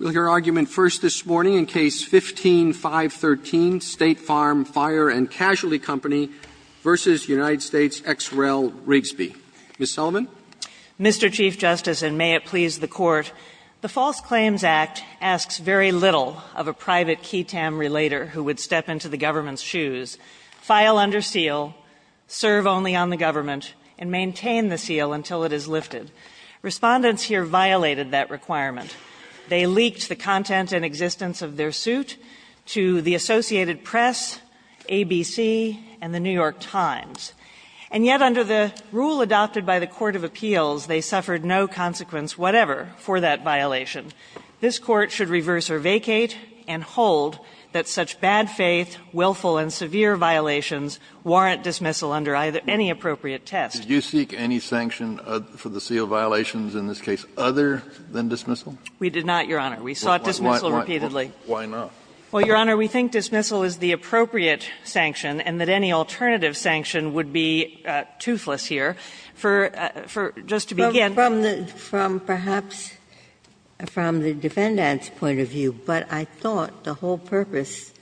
Ms. Sullivan. Mr. Chief Justice, and may it please the Court, the False Claims Act asks very little of a private Quaytam relater who would step into the government's shoes, file under seal, serve only on the government, and maintain the seal until it is lifted. Respondents here violated that requirement. They leaked the content and existence of their suit to the Associated Press, ABC, and the New York Times. And yet, under the rule adopted by the Court of Appeals, they suffered no consequence whatever for that violation. This Court should reverse or vacate and hold that such bad faith, willful, and severe violations warrant dismissal under any appropriate test. Did you seek any sanction for the seal violations in this case other than dismissal? We did not, Your Honor. We sought dismissal repeatedly. Why not? Well, Your Honor, we think dismissal is the appropriate sanction, and that any alternative sanction would be toothless here. For just to begin the case. From perhaps from the defendant's point of view, but I thought the whole purpose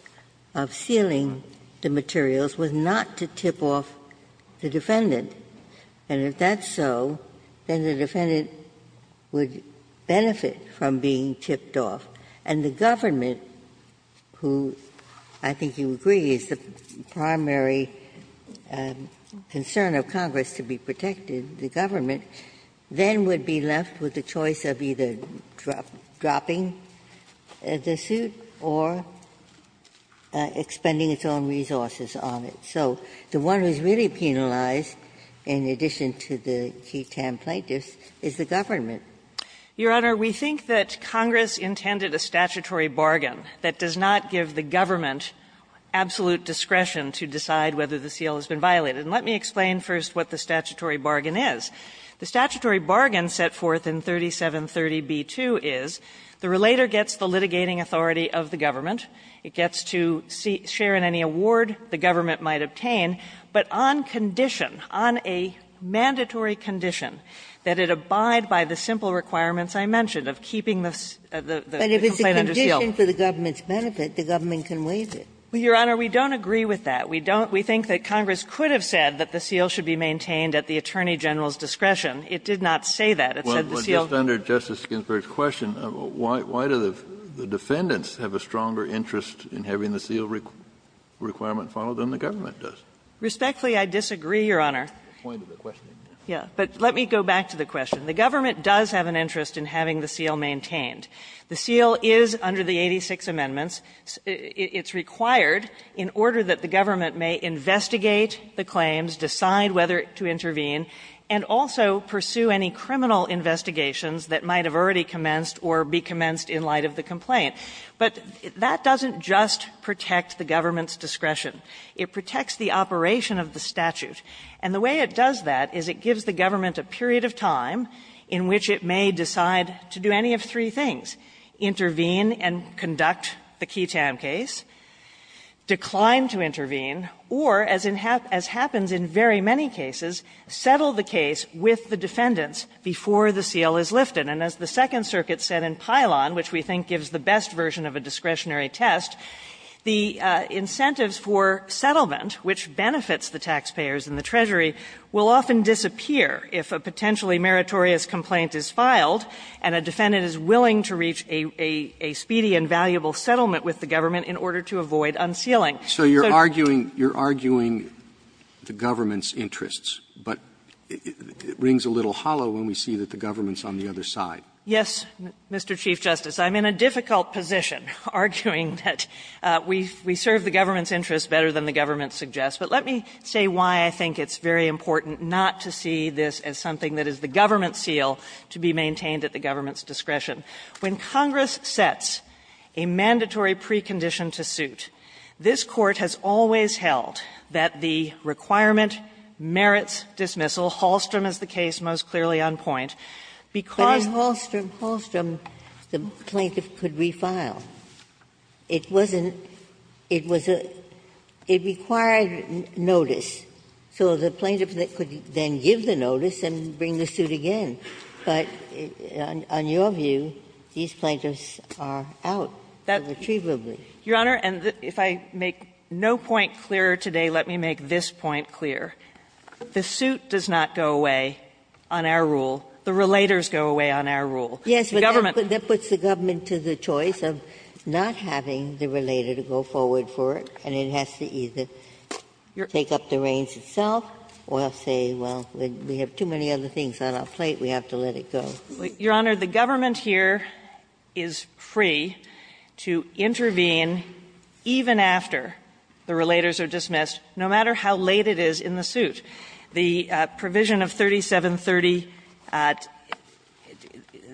of sealing the materials was not to tip off the defendant. And if that's so, then the defendant would benefit from being tipped off. And the government, who I think you agree is the primary concern of Congress to be protected, the government, then would be left with the choice of either dropping the suit, or expending its own resources on it. So the one who's really penalized, in addition to the key tamplate gifts, is the government. Your Honor, we think that Congress intended a statutory bargain that does not give the government absolute discretion to decide whether the seal has been violated. And let me explain first what the statutory bargain is. The statutory bargain set forth in 3730b-2 is the relator gets the litigating authority of the government, it gets to share in any award the government might obtain, but on condition, on a mandatory condition, that it abide by the simple requirements I mentioned of keeping the complaint under seal. Ginsburg-McGillivray But if it's a condition for the government's benefit, the government can waive it. Well, Your Honor, we don't agree with that. We don't. We think that Congress could have said that the seal should be maintained at the Attorney General's discretion. It did not say that. It said the seal was valid. Kennedy The defendants have a stronger interest in having the seal requirement followed than the government does. Ginsburg-McGillivray Respectfully, I disagree, Your Honor. Kennedy The point of the question. Ginsburg-McGillivray Yes. But let me go back to the question. The government does have an interest in having the seal maintained. The seal is under the 86 amendments. It's required in order that the government may investigate the claims, decide whether to intervene, and also pursue any criminal investigations that might have already commenced in light of the complaint. But that doesn't just protect the government's discretion. It protects the operation of the statute. And the way it does that is it gives the government a period of time in which it may decide to do any of three things, intervene and conduct the Keaton case, decline to intervene, or, as happens in very many cases, settle the case with the defendants before the seal is lifted. And as the Second Circuit said in Pilon, which we think gives the best version of a discretionary test, the incentives for settlement, which benefits the taxpayers and the Treasury, will often disappear if a potentially meritorious complaint is filed and a defendant is willing to reach a speedy and valuable settlement with the government in order to avoid unsealing. So you're arguing the government's interests, but it rings a little hollow when we see that the government's on the other side. Yes, Mr. Chief Justice. I'm in a difficult position arguing that we serve the government's interests better than the government suggests. But let me say why I think it's very important not to see this as something that is the government's seal to be maintained at the government's discretion. When Congress sets a mandatory precondition to suit, this Court has always held that the requirement merits dismissal. Hallstrom is the case most clearly on point, because the plaintiff could refile. It wasn't – it was a – it required notice, so the plaintiff could then give the notice and bring the suit again. But on your view, these plaintiffs are out, irretrievably. Your Honor, and if I make no point clearer today, let me make this point clear. The suit does not go away on our rule. The relators go away on our rule. The government. Yes, but that puts the government to the choice of not having the relator to go forward for it, and it has to either take up the reins itself or say, well, we have too many other things on our plate, we have to let it go. Your Honor, the government here is free to intervene even after the relators are dismissed, no matter how late it is in the suit. The provision of 3730 –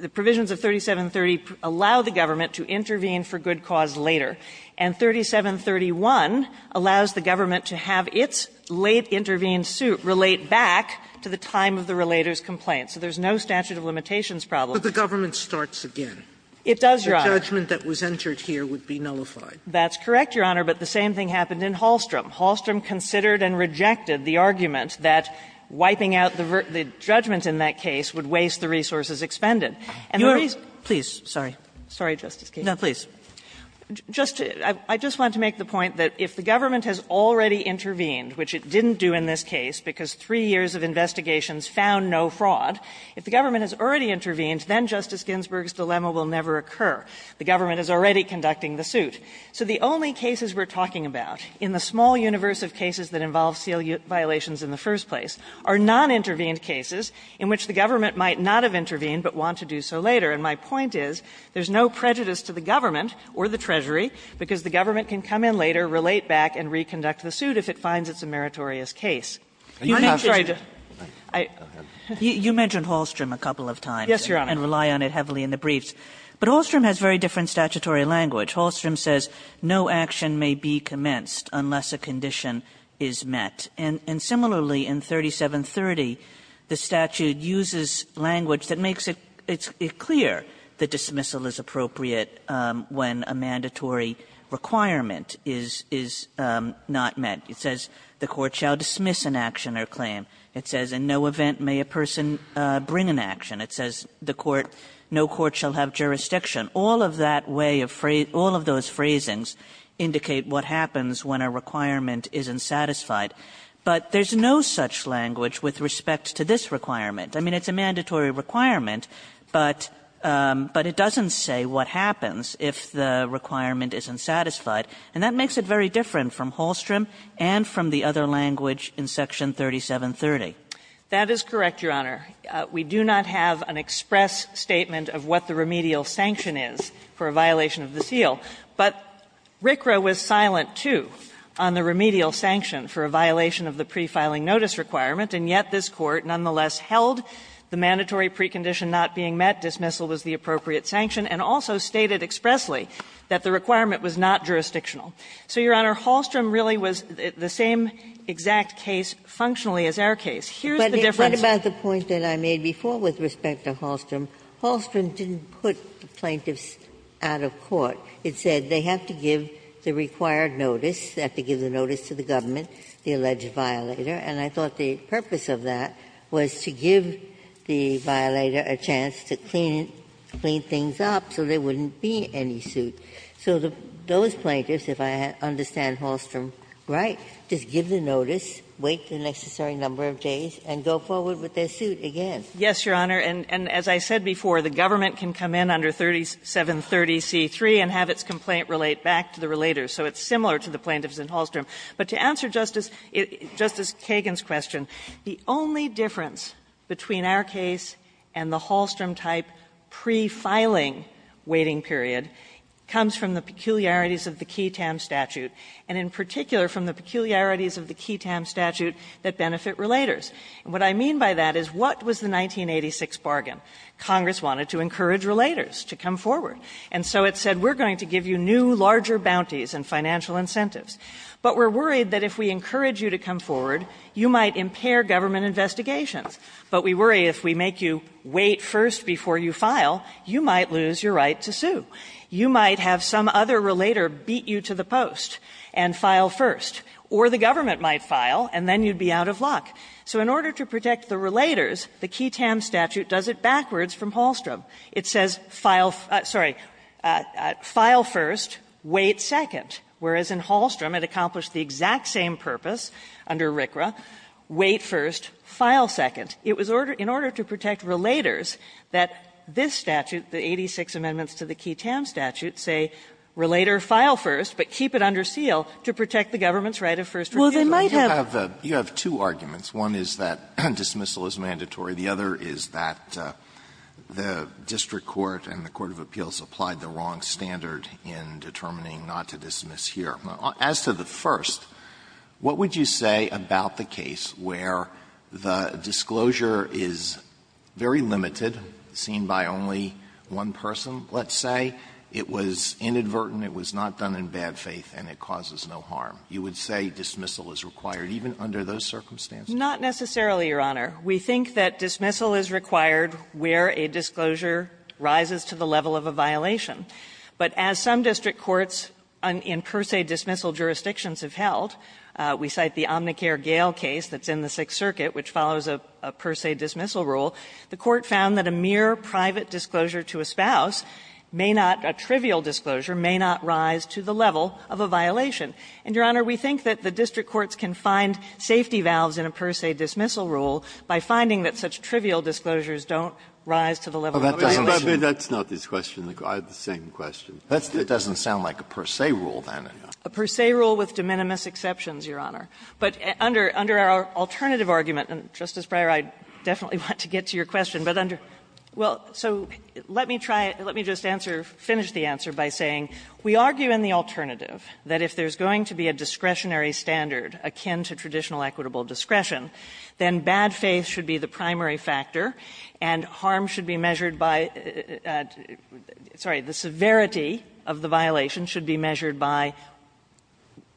the provisions of 3730 allow the government to intervene for good cause later, and 3731 allows the government to have its late-intervened suit relate back to the time of the relator's complaint. So there's no statute of limitations problem. Sotomayor, but the government starts again. It does, Your Honor. The judgment that was entered here would be nullified. That's correct, Your Honor, but the same thing happened in Hallstrom. Hallstrom considered and rejected the argument that wiping out the judgment in that case would waste the resources expended. And the reason – You are – please, sorry. Sorry, Justice Kagan. No, please. Just to – I just want to make the point that if the government has already intervened, which it didn't do in this case because three years of investigations found no fraud, if the government has already intervened, then Justice Ginsburg's dilemma will never occur. The government is already conducting the suit. So the only cases we're talking about in the small universe of cases that involve seal violations in the first place are non-intervened cases in which the government might not have intervened but want to do so later. And my point is there's no prejudice to the government or the Treasury because the government can come in later, relate back, and reconduct the suit if it finds it's a meritorious case. You have to try to – I – You mentioned Hallstrom a couple of times. Yes, Your Honor. And rely on it heavily in the briefs. But Hallstrom has very different statutory language. Hallstrom says no action may be commenced unless a condition is met. And similarly, in 3730, the statute uses language that makes it clear that dismissal is appropriate when a mandatory requirement is not met. It says the court shall dismiss an action or claim. It says in no event may a person bring an action. It says the court – no court shall have jurisdiction. All of that way of phrase – all of those phrasings indicate what happens when a requirement isn't satisfied. But there's no such language with respect to this requirement. I mean, it's a mandatory requirement, but it doesn't say what happens if the requirement isn't satisfied. And that makes it very different from Hallstrom and from the other language in Section 3730. That is correct, Your Honor. We do not have an express statement of what the remedial sanction is for a violation of the seal. But RCRA was silent, too, on the remedial sanction for a violation of the pre-filing notice requirement, and yet this Court nonetheless held the mandatory precondition not being met, dismissal was the appropriate sanction, and also stated expressly that the requirement was not jurisdictional. So, Your Honor, Hallstrom really was the same exact case functionally as our case. Here's the difference. Ginsburg-Miller I thought about the point that I made before with respect to Hallstrom. Hallstrom didn't put the plaintiffs out of court. It said they have to give the required notice, they have to give the notice to the government, the alleged violator, and I thought the purpose of that was to give the violator a chance to clean things up so there wouldn't be any suit. So those plaintiffs, if I understand Hallstrom right, just give the notice, wait the suit again. Yes, Your Honor, and as I said before, the government can come in under 3730c3 and have its complaint relate back to the relator, so it's similar to the plaintiffs in Hallstrom. But to answer Justice Kagan's question, the only difference between our case and the Hallstrom-type pre-filing waiting period comes from the peculiarities of the QI-TAM statute, and in particular from the peculiarities of the QI-TAM statute that benefit relators. And what I mean by that is what was the 1986 bargain? Congress wanted to encourage relators to come forward, and so it said we're going to give you new, larger bounties and financial incentives. But we're worried that if we encourage you to come forward, you might impair government investigations. But we worry if we make you wait first before you file, you might lose your right to sue. You might have some other relator beat you to the post and file first, or the government might file, and then you'd be out of luck. So in order to protect the relators, the QI-TAM statute does it backwards from Hallstrom. It says file sorry, file first, wait second, whereas in Hallstrom it accomplished the exact same purpose under RCRA, wait first, file second. It was in order to protect relators that this statute, the 86 amendments to the QI-TAM statute, say relator, file first, but keep it under seal to protect the government's right of first refusal. Well, they might have the Alito, you have two arguments. One is that dismissal is mandatory. The other is that the district court and the court of appeals applied the wrong standard in determining not to dismiss here. As to the first, what would you say about the case where the disclosure is very limited, seen by only one person, let's say, it was inadvertent, it was not done in bad faith, and it causes no harm? You would say dismissal is required, even under those circumstances? Not necessarily, Your Honor. We think that dismissal is required where a disclosure rises to the level of a violation. But as some district courts in per se dismissal jurisdictions have held, we cite the Omnicare-Gale case that's in the Sixth Circuit, which follows a per se dismissal rule. The court found that a mere private disclosure to a spouse may not, a trivial disclosure, may not rise to the level of a violation. And, Your Honor, we think that the district courts can find safety valves in a per se dismissal rule by finding that such trivial disclosures don't rise to the level of a violation. Breyer, that's not this question. I have the same question. That doesn't sound like a per se rule, then. A per se rule with de minimis exceptions, Your Honor. But under our alternative argument, and, Justice Breyer, I definitely want to get to your question, but under the rule, so let me try, let me just answer, finish the answer by saying we argue in the alternative that if there's going to be a discretionary standard akin to traditional equitable discretion, then bad faith should be the primary factor, and harm should be measured by the severity of the violation should be measured by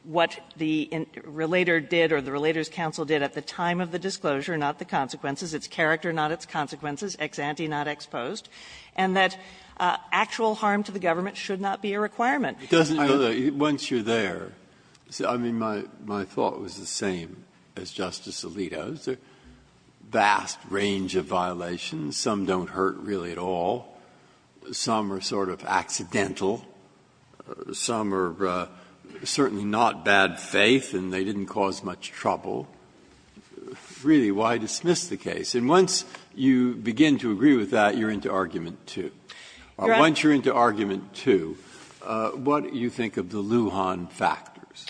what the relator did or the relator's counsel did at the time of the disclosure, not the consequences, its character, not its consequences, ex ante, not ex post, and that actual harm to the government should not be a requirement. Breyer, once you're there, I mean, my thought was the same as Justice Alito's. A vast range of violations, some don't hurt really at all, some are sort of accidental, some are certainly not bad faith and they didn't cause much trouble. Really, why dismiss the case? And once you begin to agree with that, you're into argument two. Once you're into argument two, what do you think of the Lujan factors?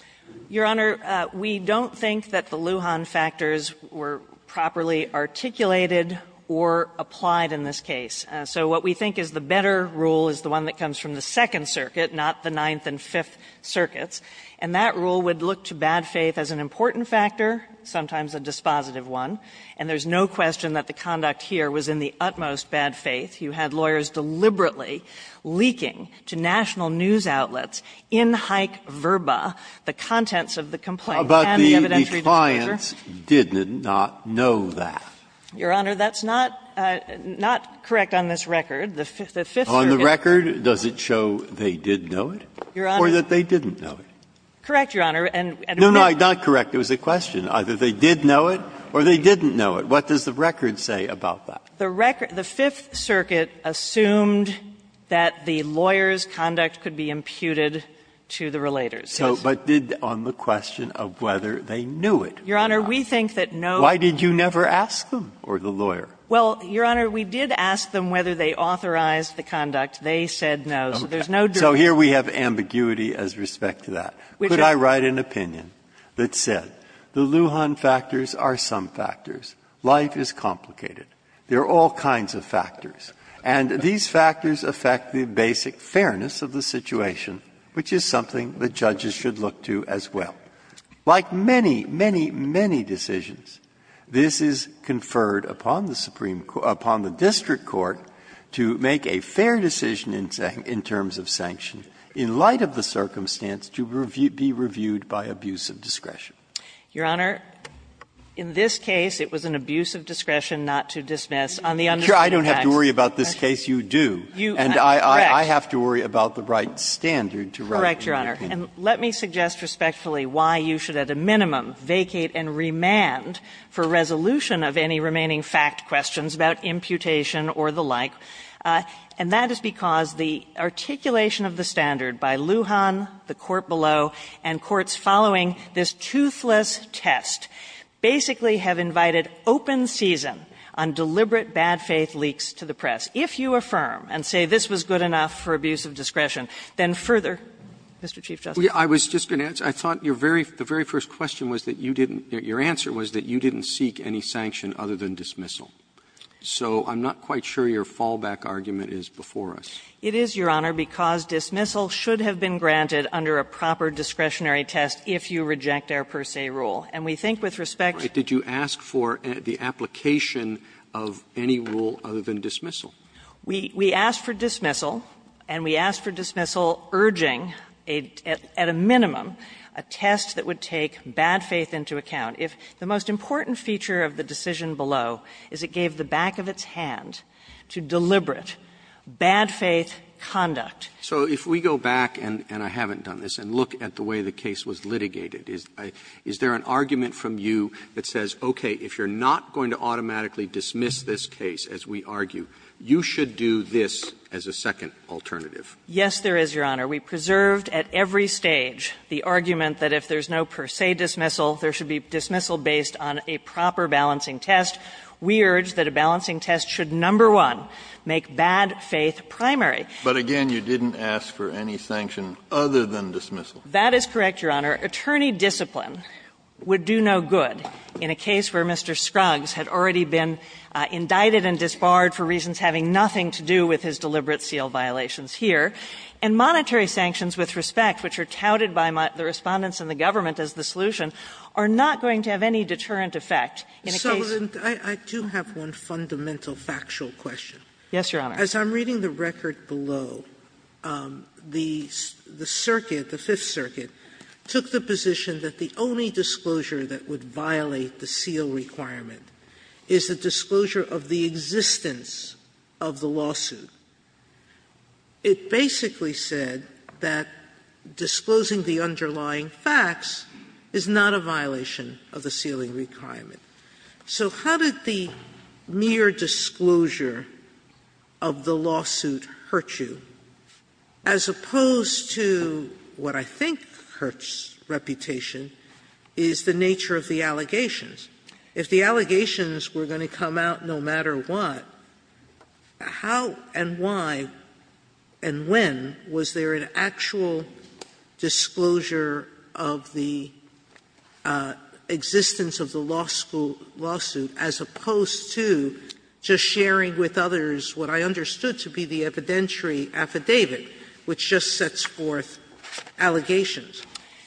Your Honor, we don't think that the Lujan factors were properly articulated or applied in this case. So what we think is the better rule is the one that comes from the Second Circuit, not the Ninth and Fifth Circuits, and that rule would look to bad faith as an important factor, sometimes a dispositive one, and there's no question that the conduct here was in the utmost bad faith. You had lawyers deliberately leaking to national news outlets in hike verba the contents of the complaint and the evidentiary disclosure. Breyer, the clients did not know that. Your Honor, that's not correct on this record. The Fifth Circuit. On the record, does it show they did know it or that they didn't know it? Correct, Your Honor. No, no, not correct. It was a question. Either they did know it or they didn't know it. What does the record say about that? The record the Fifth Circuit assumed that the lawyers' conduct could be imputed to the relators. So, but did on the question of whether they knew it. Your Honor, we think that no. Why did you never ask them or the lawyer? Well, Your Honor, we did ask them whether they authorized the conduct. They said no. So there's no. So here we have ambiguity as respect to that. Could I write an opinion that said the Lujan factors are some factors, life is complicated, there are all kinds of factors, and these factors affect the basic fairness of the situation, which is something the judges should look to as well. Like many, many, many decisions, this is conferred upon the Supreme Court, upon the district court to make a fair decision in terms of sanction in light of the circumstance to be reviewed by abuse of discretion. Your Honor, in this case, it was an abuse of discretion not to dismiss on the understanding of facts. I don't have to worry about this case. You do. And I have to worry about the right standard to write an opinion. Correct, Your Honor. And let me suggest respectfully why you should, at a minimum, vacate and remand for resolution of any remaining fact questions about imputation or the like. And that is because the articulation of the standard by Lujan, the court below, and courts following this toothless test basically have invited open season on deliberate bad faith leaks to the press. If you affirm and say this was good enough for abuse of discretion, then further, Mr. Chief Justice. I was just going to add, I thought your very, the very first question was that you didn't, your answer was that you didn't seek any sanction other than dismissal. So I'm not quite sure your fallback argument is before us. It is, Your Honor, because dismissal should have been granted under a proper discretionary test if you reject our per se rule. And we think with respect to the application of any rule other than dismissal. We asked for dismissal, and we asked for dismissal urging at a minimum a test that would take bad faith into account. If the most important feature of the decision below is it gave the back of its hand to deliberate bad faith conduct. Roberts. Roberts. So if we go back, and I haven't done this, and look at the way the case was litigated, is there an argument from you that says, okay, if you're not going to automatically dismiss this case as we argue, you should do this as a second alternative? Yes, there is, Your Honor. We preserved at every stage the argument that if there's no per se dismissal, there should be dismissal based on a proper balancing test. We urge that a balancing test should, number one, make bad faith primary. But again, you didn't ask for any sanction other than dismissal. That is correct, Your Honor. Attorney discipline would do no good in a case where Mr. Scruggs had already been indicted and disbarred for reasons having nothing to do with his deliberate seal violations here. And monetary sanctions with respect, which are touted by the Respondents and the government as the solution, are not going to have any deterrent effect in a case. Sotomayor So I do have one fundamental factual question. Yes, Your Honor. As I'm reading the record below, the circuit, the Fifth Circuit, took the position that the only disclosure that would violate the seal requirement is the disclosure of the existence of the lawsuit. It basically said that disclosing the underlying facts is not a violation of the sealing requirement. So how did the mere disclosure of the lawsuit hurt you, as opposed to what I think hurts reputation, is the nature of the allegations? If the allegations were going to come out no matter what, how and why and when was there an actual disclosure of the existence of the lawsuit as opposed to just sharing with others what I understood to be the evidentiary affidavit, which just sets forth allegations?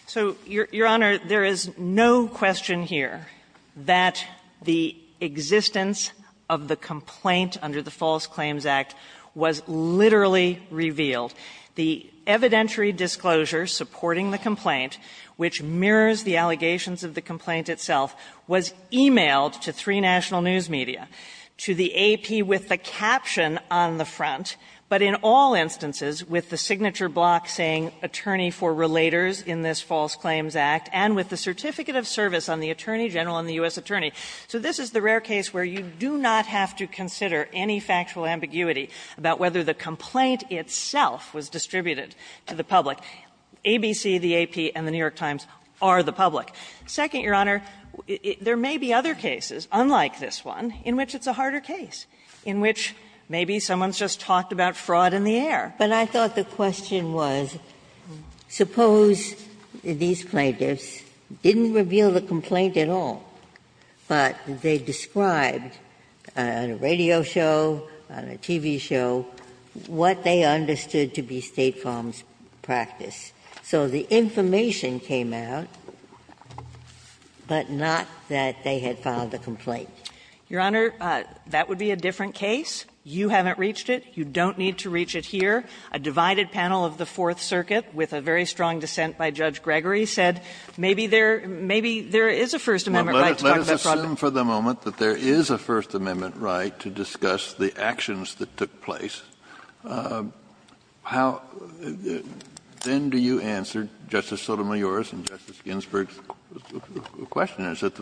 So, Your Honor, there is no question here that the existence of the complaint under the False Claims Act was literally revealed. The evidentiary disclosure supporting the complaint, which mirrors the allegations of the complaint itself, was e-mailed to three national news media, to the AP with the caption on the front, but in all instances with the signature block saying attorney for relators in this False Claims Act, and with the certificate of service on the attorney general and the U.S. attorney. So this is the rare case where you do not have to consider any factual ambiguity about whether the complaint itself was distributed to the public. ABC, the AP, and the New York Times are the public. Second, Your Honor, there may be other cases, unlike this one, in which it's a harder case, in which maybe someone's just talked about fraud in the air. But I thought the question was, suppose these plaintiffs didn't reveal the complaint at all, but they described on a radio show, on a TV show, what they understood to be State Farm's practice. So the information came out, but not that they had filed a complaint. Your Honor, that would be a different case. You haven't reached it. You don't need to reach it here. A divided panel of the Fourth Circuit, with a very strong dissent by Judge Gregory, said maybe there – maybe there is a First Amendment right to talk about fraud. Kennedy. Let us assume for the moment that there is a First Amendment right to discuss the actions that took place. How – then do you answer, Justice Sotomayor's and Justice Ginsburg's question is that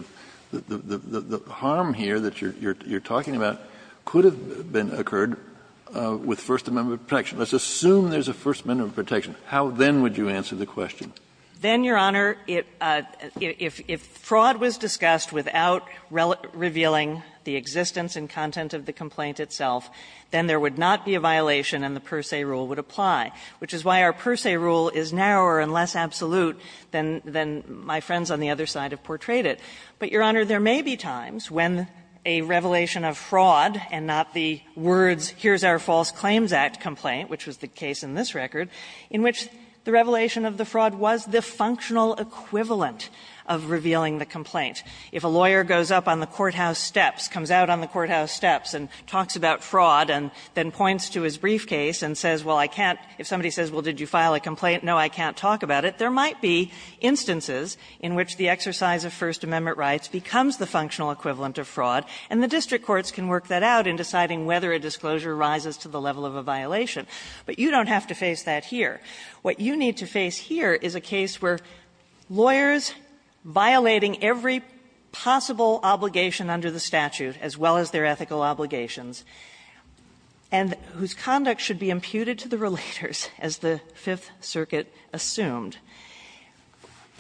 the harm here that you're talking about could have occurred with First Amendment protection. Let's assume there's a First Amendment protection. How then would you answer the question? Then, Your Honor, if fraud was discussed without revealing the existence and content of the complaint itself, then there would not be a violation and the per se rule would apply, which is why our per se rule is narrower and less absolute than my friends on the other side have portrayed it. But, Your Honor, there may be times when a revelation of fraud and not the words here's our False Claims Act complaint, which was the case in this record, in which the revelation of the fraud was the functional equivalent of revealing the complaint. If a lawyer goes up on the courthouse steps, comes out on the courthouse steps and talks about fraud, and then points to his briefcase and says, well, I can't – if somebody says, well, did you file a complaint, no, I can't talk about it, there might be instances in which the exercise of First Amendment rights becomes the functional equivalent of fraud, and the district courts can work that out in deciding whether a disclosure rises to the level of a violation, but you don't have to face that here. What you need to face here is a case where lawyers violating every possible obligation under the statute, as well as their ethical obligations, and whose conduct should be imputed to the relators, as the Fifth Circuit assumed,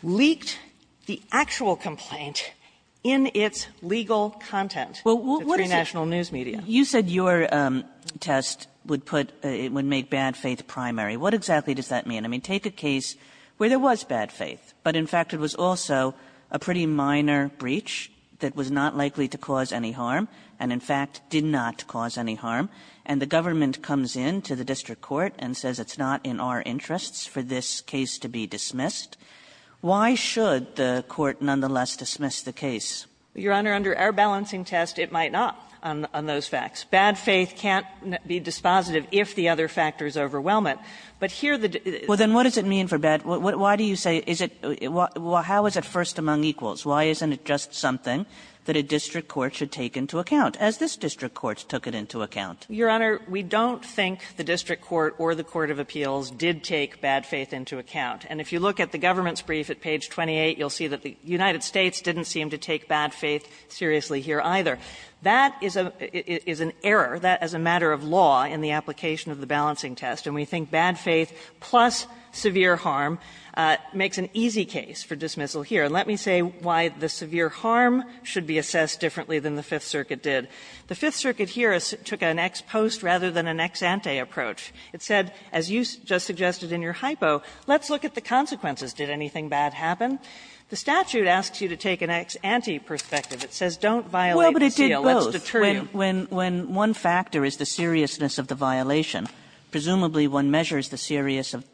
leaked the actual complaint in its legal content to three national news media. Kagan. Kagan. You said your test would put – would make bad faith primary. What exactly does that mean? I mean, take a case where there was bad faith, but, in fact, it was also a pretty minor breach that was not likely to cause any harm, and, in fact, did not cause any harm, and the government comes in to the district court and says it's not in our interests for this case to be dismissed. Why should the court nonetheless dismiss the case? Your Honor, under our balancing test, it might not on those facts. Bad faith can't be dispositive if the other factors overwhelm it. But here the – Well, then what does it mean for bad – why do you say – is it – how is it first among equals? Why isn't it just something that a district court should take into account, as this district court took it into account? Your Honor, we don't think the district court or the court of appeals did take bad faith into account. And if you look at the government's brief at page 28, you'll see that the United States didn't seem to take bad faith seriously here either. That is a – is an error, that as a matter of law in the application of the balancing test, and we think bad faith plus severe harm makes an easy case for dismissal here. And let me say why the severe harm should be assessed differently than the Fifth Circuit did. The Fifth Circuit here took an ex post rather than an ex ante approach. It said, as you just suggested in your hypo, let's look at the consequences. Did anything bad happen? The statute asks you to take an ex ante perspective. It says don't violate the CLS deterrent. Kagan. When – when – when one factor is the seriousness of the violation, presumably one measures the serious –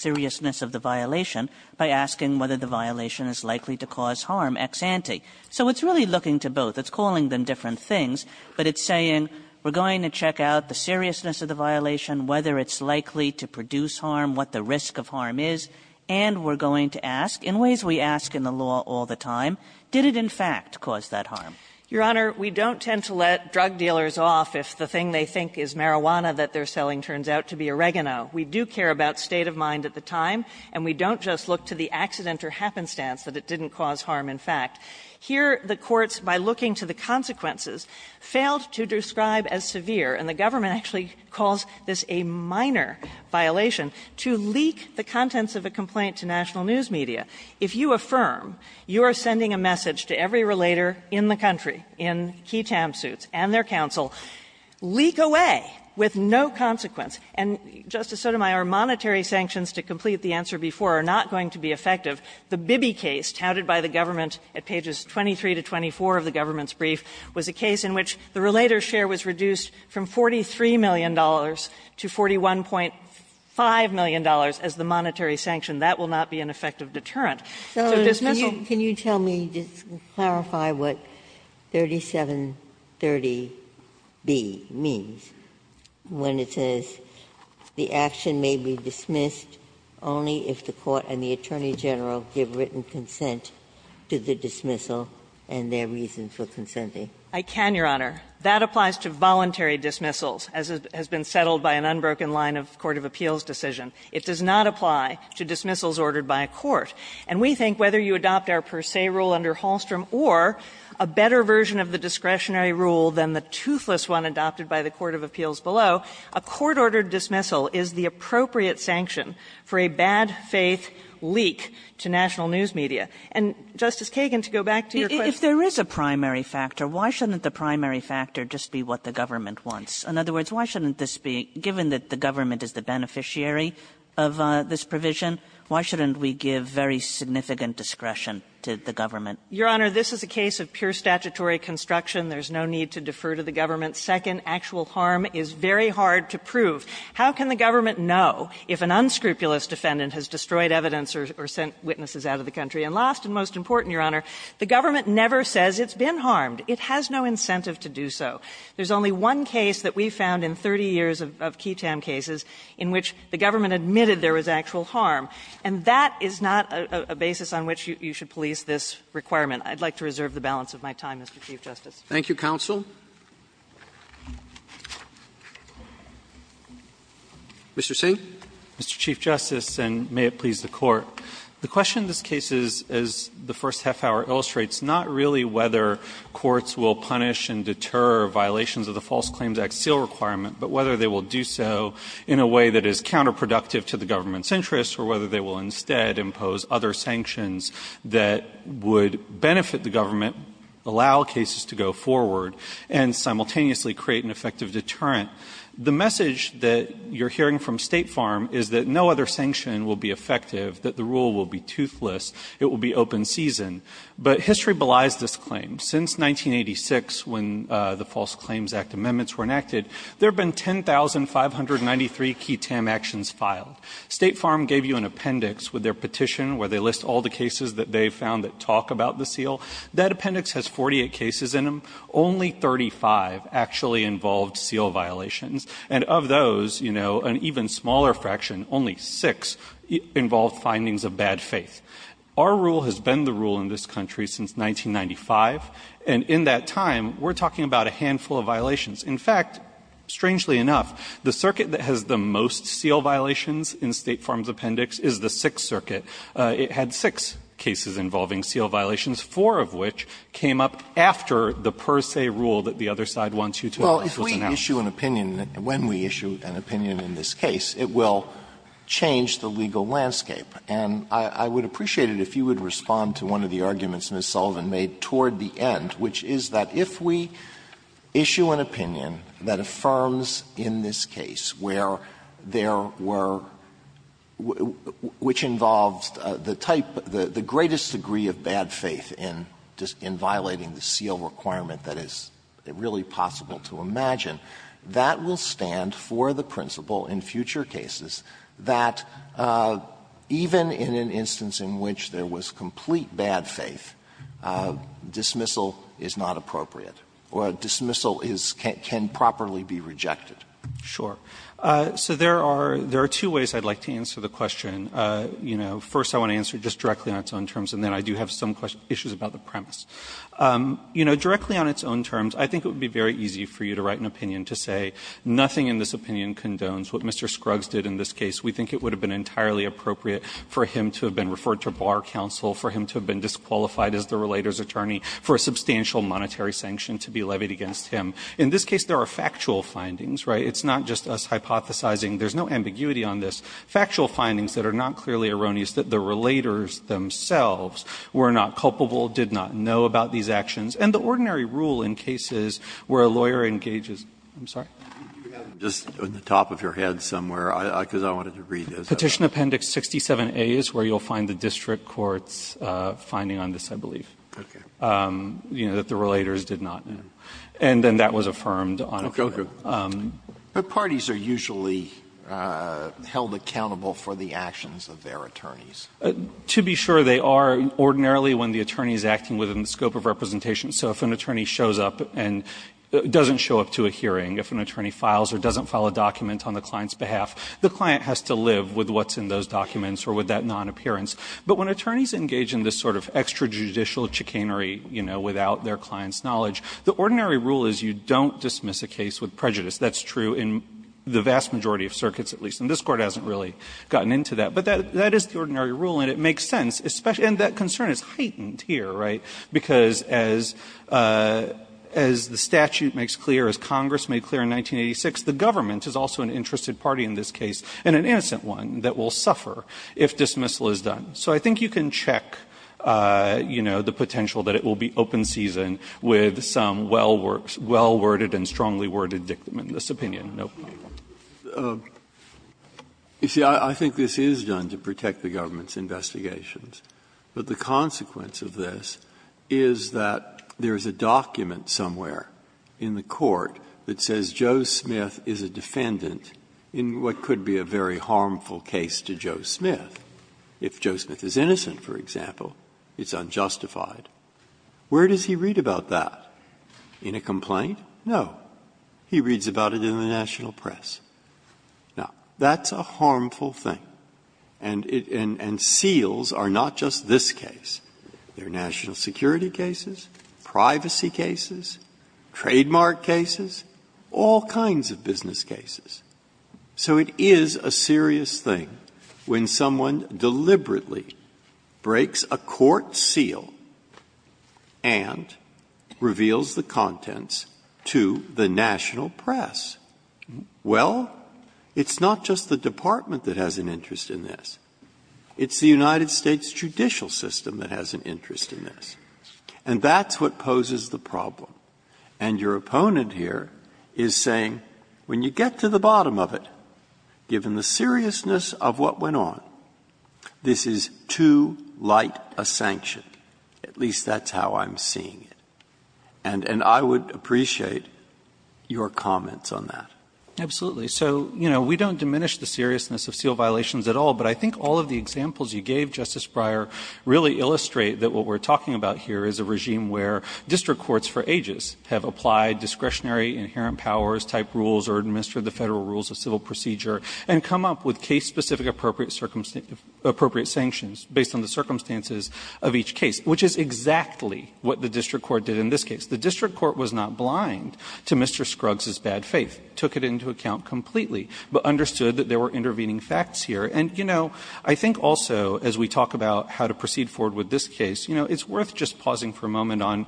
seriousness of the violation by asking whether the violation is likely to cause harm ex ante. So it's really looking to both. It's calling them different things, but it's saying we're going to check out the seriousness of the violation, whether it's likely to produce harm, what the risk of harm is, and we're going to ask, in ways we ask in the law all the time, did it, in fact, cause that harm? Your Honor, we don't tend to let drug dealers off if the thing they think is marijuana that they're selling turns out to be oregano. We do care about state of mind at the time, and we don't just look to the accident or happenstance that it didn't cause harm, in fact. Here, the courts, by looking to the consequences, failed to describe as severe, and the government actually calls this a minor violation, to leak the contents of a complaint to national news media. If you affirm you are sending a message to every relator in the country in key TAM suits and their counsel, leak away with no consequence. And, Justice Sotomayor, monetary sanctions to complete the answer before are not going to be effective. The Bibby case touted by the government at pages 23 to 24 of the government's $43 million to $41.5 million as the monetary sanction, that will not be an effective deterrent. So dismissal can you tell me, just to clarify what 3730B means, when it says the action may be dismissed only if the court and the attorney general give written consent to the dismissal and their reason for consenting. I can, Your Honor. That applies to voluntary dismissals, as has been settled by an unbroken line of court of appeals decision. It does not apply to dismissals ordered by a court. And we think whether you adopt our per se rule under Hallstrom or a better version of the discretionary rule than the toothless one adopted by the court of appeals below, a court-ordered dismissal is the appropriate sanction for a bad-faith leak to national news media. And, Justice Kagan, to go back to your question. If there is a primary factor, why shouldn't the primary factor just be what the government wants? In other words, why shouldn't this be, given that the government is the beneficiary of this provision, why shouldn't we give very significant discretion to the government? Your Honor, this is a case of pure statutory construction. There's no need to defer to the government. Second, actual harm is very hard to prove. How can the government know if an unscrupulous defendant has destroyed evidence or sent witnesses out of the country? And last and most important, Your Honor, the government never says it's been harmed. It has no incentive to do so. There's only one case that we found in 30 years of Ketam cases in which the government admitted there was actual harm. And that is not a basis on which you should police this requirement. I'd like to reserve the balance of my time, Mr. Chief Justice. Roberts. Thank you, counsel. Mr. Singh. Mr. Chief Justice, and may it please the Court. The question in this case is, as the first half hour illustrates, not really whether courts will punish and deter violations of the False Claims Act seal requirement, but whether they will do so in a way that is counterproductive to the government's interests or whether they will instead impose other sanctions that would benefit the government, allow cases to go forward, and simultaneously create an effective deterrent. The message that you're hearing from State Farm is that no other sanction will be effective, that the rule will be toothless, it will be open season. But history belies this claim. Since 1986, when the False Claims Act amendments were enacted, there have been 10,593 Ketam actions filed. State Farm gave you an appendix with their petition where they list all the cases that they found that talk about the seal. That appendix has 48 cases in them. Only 35 actually involved seal violations. And of those, you know, an even smaller fraction, only six, involved findings of bad faith. Our rule has been the rule in this country since 1995, and in that time, we're talking about a handful of violations. In fact, strangely enough, the circuit that has the most seal violations in State Farm's appendix is the Sixth Circuit. It had six cases involving seal violations, four of which came up after the per se rule that the other side wants you to announce. Alito, when we issue an opinion in this case, it will change the legal landscape. And I would appreciate it if you would respond to one of the arguments Ms. Sullivan made toward the end, which is that if we issue an opinion that affirms in this case where there were, which involves the type, the greatest degree of bad faith in violating the seal requirement that is really possible to imagine, that would be the case that would stand for the principle in future cases that even in an instance in which there was complete bad faith, dismissal is not appropriate, or dismissal is can't properly be rejected. Fisherman, Sure. So there are two ways I'd like to answer the question. You know, first I want to answer just directly on its own terms, and then I do have some questions, issues about the premise. You know, directly on its own terms, I think it would be very easy for you to write an opinion to say nothing in this opinion condones what Mr. Scruggs did in this case. We think it would have been entirely appropriate for him to have been referred to Bar Counsel, for him to have been disqualified as the relator's attorney, for a substantial monetary sanction to be levied against him. In this case, there are factual findings, right? It's not just us hypothesizing. There's no ambiguity on this. Factual findings that are not clearly erroneous that the relators themselves were not culpable, did not know about these actions. And the ordinary rule in cases where a lawyer engages – I'm sorry? Sotomayor, you have it just on the top of your head somewhere, because I wanted to read this. Fisherman, Petition Appendix 67A is where you'll find the district court's finding on this, I believe. Sotomayor, Okay. Fisherman, You know, that the relators did not know. And then that was affirmed on it. Sotomayor, Okay. But parties are usually held accountable for the actions of their attorneys. Fisherman, To be sure, they are. And ordinarily, when the attorney is acting within the scope of representation – so if an attorney shows up and doesn't show up to a hearing, if an attorney files or doesn't file a document on the client's behalf, the client has to live with what's in those documents or with that non-appearance. But when attorneys engage in this sort of extrajudicial chicanery, you know, without their client's knowledge, the ordinary rule is you don't dismiss a case with prejudice. That's true in the vast majority of circuits, at least. And this Court hasn't really gotten into that. But that is the ordinary rule, and it makes sense. And that concern is heightened here, right, because as the statute makes clear, as Congress made clear in 1986, the government is also an interested party in this case, and an innocent one, that will suffer if dismissal is done. So I think you can check, you know, the potential that it will be open season with some well-worded and strongly-worded dictum in this opinion, no problem. Breyer, You see, I think this is done to protect the government's investigations. But the consequence of this is that there is a document somewhere in the Court that says Joe Smith is a defendant in what could be a very harmful case to Joe Smith. If Joe Smith is innocent, for example, it's unjustified. Where does he read about that? In a complaint? No. He reads about it in the national press. Now, that's a harmful thing. And seals are not just this case. There are national security cases, privacy cases, trademark cases, all kinds of business cases. So it is a serious thing when someone deliberately breaks a court seal and reveals the contents to the national press. Well, it's not just the Department that has an interest in this. It's the United States judicial system that has an interest in this. And that's what poses the problem. And your opponent here is saying, when you get to the bottom of it, given the seriousness of what went on, this is too light a sanction, at least that's how I'm seeing it. And I would appreciate your comments on that. Absolutely. So, you know, we don't diminish the seriousness of seal violations at all. But I think all of the examples you gave, Justice Breyer, really illustrate that what we're talking about here is a regime where district courts for ages have applied discretionary inherent powers-type rules or administered the federal rules of civil procedure and come up with case-specific appropriate sanctions based on the circumstances of each case, which is exactly what the district court did in this case. The district court was not blind to Mr. Scruggs' bad faith, took it into account completely, but understood that there were intervening facts here. And, you know, I think also, as we talk about how to proceed forward with this case, you know, it's worth just pausing for a moment on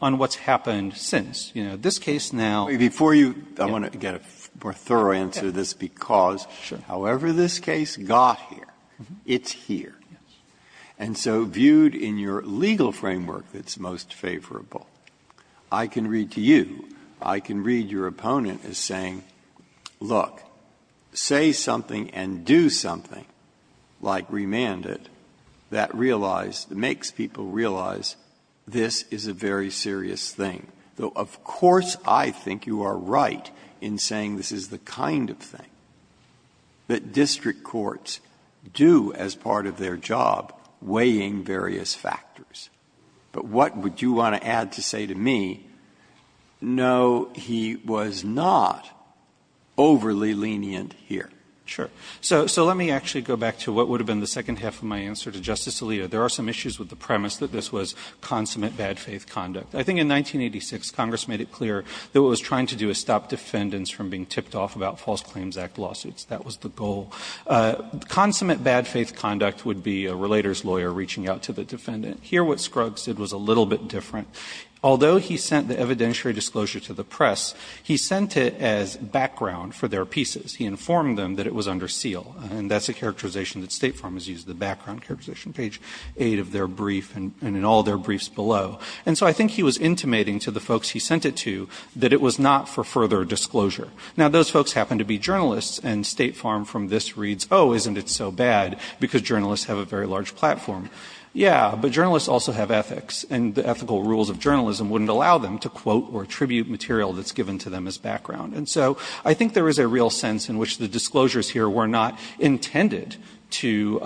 what's happened since. You know, this case now- Breyer, before you go, I want to get a more thorough answer to this, because- Sure. However this case got here, it's here. Yes. And so viewed in your legal framework that's most favorable, I can read to you, I can read your opponent as saying, look, say something and do something, like remand it, that realize, that makes people realize this is a very serious thing. Though, of course, I think you are right in saying this is the kind of thing that is not weighing various factors, but what would you want to add to say to me, no, he was not overly lenient here? Sure. So let me actually go back to what would have been the second half of my answer to Justice Alito. There are some issues with the premise that this was consummate bad faith conduct. I think in 1986, Congress made it clear that what it was trying to do was stop defendants from being tipped off about False Claims Act lawsuits. That was the goal. Consummate bad faith conduct would be a relator's lawyer reaching out to the defendant. Here what Scruggs did was a little bit different. Although he sent the evidentiary disclosure to the press, he sent it as background for their pieces. He informed them that it was under seal. And that's a characterization that State Farm has used, the background characterization page 8 of their brief and in all their briefs below. And so I think he was intimating to the folks he sent it to that it was not for further disclosure. Now, those folks happen to be journalists and State Farm from this reads, oh, isn't it so bad because journalists have a very large platform. Yeah, but journalists also have ethics. And the ethical rules of journalism wouldn't allow them to quote or attribute material that's given to them as background. And so I think there is a real sense in which the disclosures here were not intended to,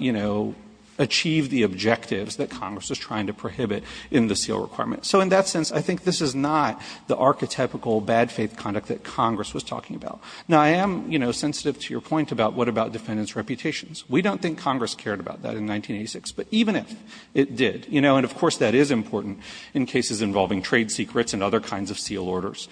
you know, achieve the objectives that Congress was trying to prohibit in the seal requirement. So in that sense, I think this is not the archetypical bad faith conduct that Congress was talking about. Now, I am, you know, sensitive to your point about what about defendants' reputations. We don't think Congress cared about that in 1986. But even if it did, you know, and of course that is important in cases involving trade secrets and other kinds of seal orders.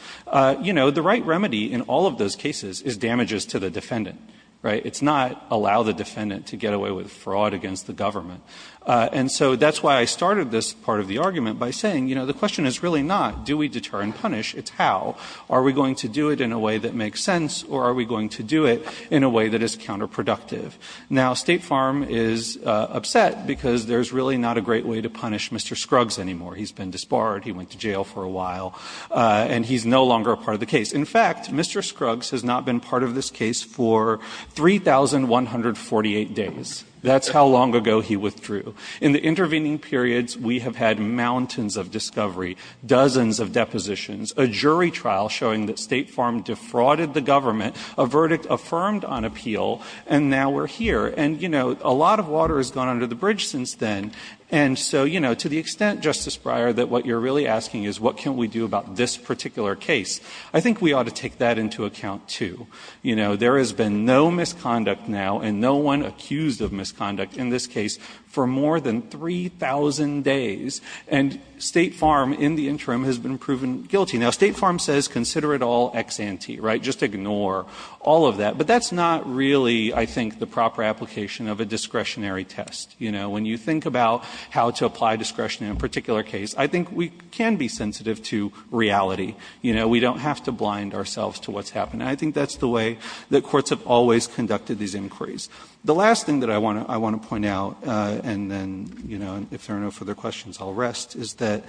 You know, the right remedy in all of those cases is damages to the defendant, right? It's not allow the defendant to get away with fraud against the government. And so that's why I started this part of the argument by saying, you know, the question is really not do we deter and punish. It's how. Are we going to do it in a way that makes sense or are we going to do it in a way that is counterproductive? Now, State Farm is upset because there's really not a great way to punish Mr. Scruggs anymore. He's been disbarred. He went to jail for a while and he's no longer a part of the case. In fact, Mr. Scruggs has not been part of this case for 3,148 days. That's how long ago he withdrew. In the intervening periods, we have had mountains of discovery, dozens of depositions, a jury trial showing that State Farm defrauded the government, a verdict affirmed on appeal, and now we're here. And, you know, a lot of water has gone under the bridge since then. And so, you know, to the extent, Justice Breyer, that what you're really asking is what can we do about this particular case? I think we ought to take that into account too. You know, there has been no misconduct now and no one accused of misconduct in this case for more than 3,000 days. And State Farm in the interim has been proven guilty. Now, State Farm says consider it all ex ante, right? Just ignore all of that. But that's not really, I think, the proper application of a discretionary test. You know, when you think about how to apply discretion in a particular case, I think we can be sensitive to reality. You know, we don't have to blind ourselves to what's happened. And I think that's the way that courts have always conducted these inquiries. The last thing that I want to point out, and then, you know, if there are no further questions, I'll rest, is that,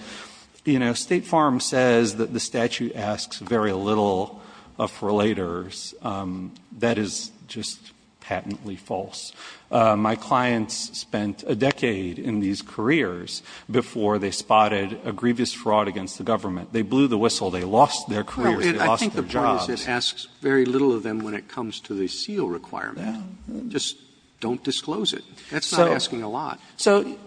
you know, State Farm says that the statute asks very little of relators. That is just patently false. My clients spent a decade in these careers before they spotted a grievous fraud against the government. They blew the whistle. They lost their careers. They lost their jobs. Roberts. I think the point is it asks very little of them when it comes to the seal requirement. Just don't disclose it. That's not asking a lot. So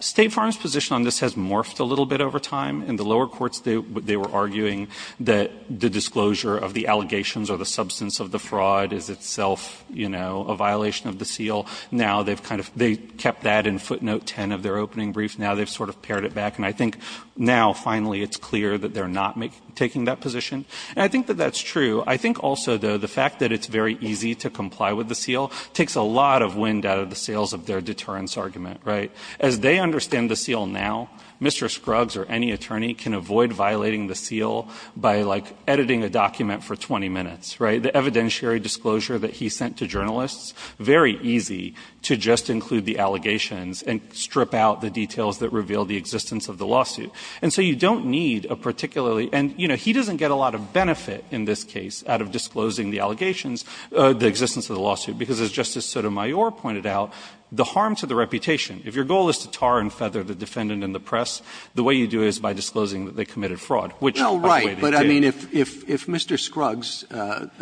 State Farm's position on this has morphed a little bit over time. In the lower courts, they were arguing that the disclosure of the allegations or the substance of the fraud is itself, you know, a violation of the seal. Now they've kind of they kept that in footnote 10 of their opening brief. Now they've sort of pared it back. And I think now, finally, it's clear that they're not taking that position. And I think that that's true. I think also, though, the fact that it's very easy to comply with the seal takes a lot of wind out of the sails of their deterrence argument, right? As they understand the seal now, Mr. Scruggs or any attorney can avoid violating the seal by, like, editing a document for 20 minutes, right? The evidentiary disclosure that he sent to journalists, very easy to just include the allegations and strip out the details that reveal the existence of the lawsuit. And so you don't need a particularly and, you know, he doesn't get a lot of benefit in this case out of disclosing the allegations, the existence of the lawsuit, because, as Justice Sotomayor pointed out, the harm to the reputation, if your goal is to tar and feather the defendant in the press, the way you do it is by disclosing that they committed fraud, which is the way they did. Roberts, but, I mean, if Mr. Scruggs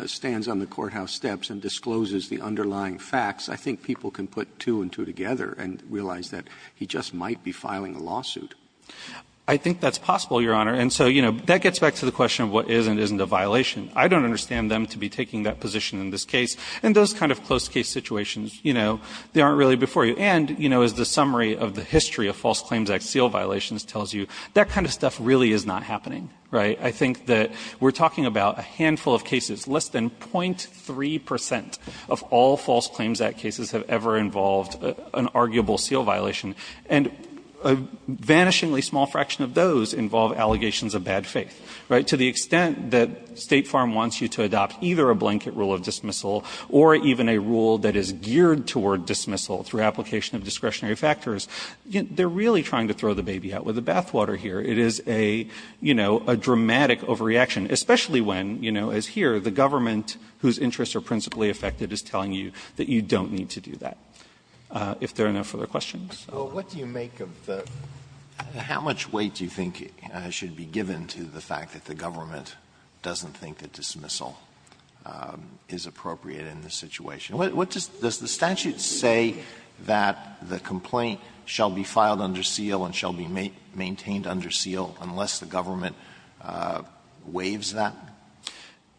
stands on the courthouse steps and discloses the underlying facts, I think people can put two and two together and realize that he just might be filing a lawsuit. I think that's possible, Your Honor. And so, you know, that gets back to the question of what is and isn't a violation. I don't understand them to be taking that position in this case. And those kind of close case situations, you know, they aren't really before you. And, you know, as the summary of the history of False Claims Act seal violations tells you, that kind of stuff really is not happening, right? I think that we're talking about a handful of cases, less than 0.3 percent of all False Claims Act cases have ever involved an arguable seal violation, and a vanishingly small fraction of those involve allegations of bad faith, right? So to the extent that State Farm wants you to adopt either a blanket rule of dismissal or even a rule that is geared toward dismissal through application of discretionary factors, they're really trying to throw the baby out with the bathwater here. It is a, you know, a dramatic overreaction, especially when, you know, as here, the government whose interests are principally affected is telling you that you don't need to do that. If there are no further questions. Alito, what do you make of the how much weight do you think should be given to the fact that the government doesn't think that dismissal is appropriate in this situation? Does the statute say that the complaint shall be filed under seal and shall be maintained under seal unless the government waives that?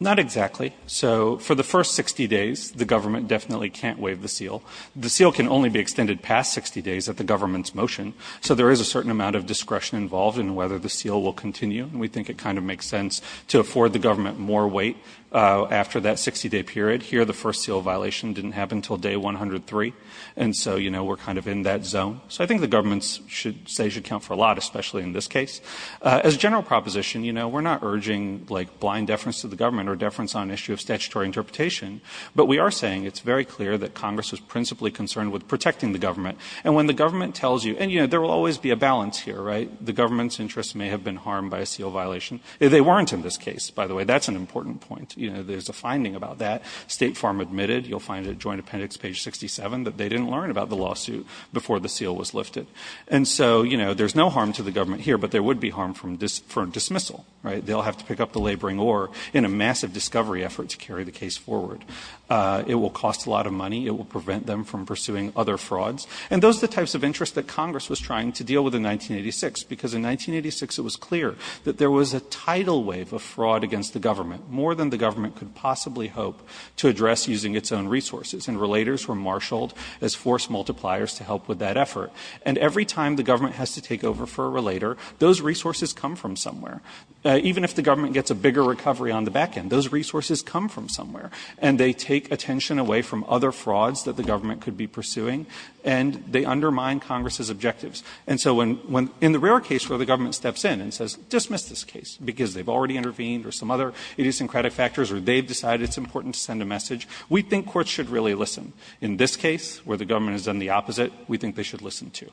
Not exactly. So for the first 60 days, the government definitely can't waive the seal. The seal can only be extended past 60 days at the government's motion. So there is a certain amount of discretion involved in whether the seal will continue. We think it kind of makes sense to afford the government more weight after that 60 day period. Here, the first seal violation didn't happen until day 103. And so, you know, we're kind of in that zone. So I think the government's should say should count for a lot, especially in this case. As a general proposition, you know, we're not urging like blind deference to the government or deference on issue of statutory interpretation. But we are saying it's very clear that Congress is principally concerned with protecting the government. And when the government tells you and, you know, there will always be a balance here, right? The government's interests may have been harmed by a seal violation. They weren't in this case, by the way. That's an important point. You know, there's a finding about that. State Farm admitted, you'll find a joint appendix, page 67, that they didn't learn about the lawsuit before the seal was lifted. And so, you know, there's no harm to the government here, but there would be harm from this for dismissal, right? They'll have to pick up the laboring or in a massive discovery effort to carry the case forward. It will cost a lot of money. It will prevent them from pursuing other frauds. And those are the types of interests that Congress was trying to deal with in 1986. Because in 1986, it was clear that there was a tidal wave of fraud against the government, more than the government could possibly hope to address using its own resources. And relators were marshaled as force multipliers to help with that effort. And every time the government has to take over for a relator, those resources come from somewhere. Even if the government gets a bigger recovery on the back end, those resources come from somewhere. And they take attention away from other frauds that the government could be pursuing, and they undermine Congress's objectives. And so when the rare case where the government steps in and says, dismiss this case because they've already intervened or some other idiosyncratic factors or they've decided it's important to send a message, we think courts should really listen. In this case, where the government has done the opposite, we think they should listen, too.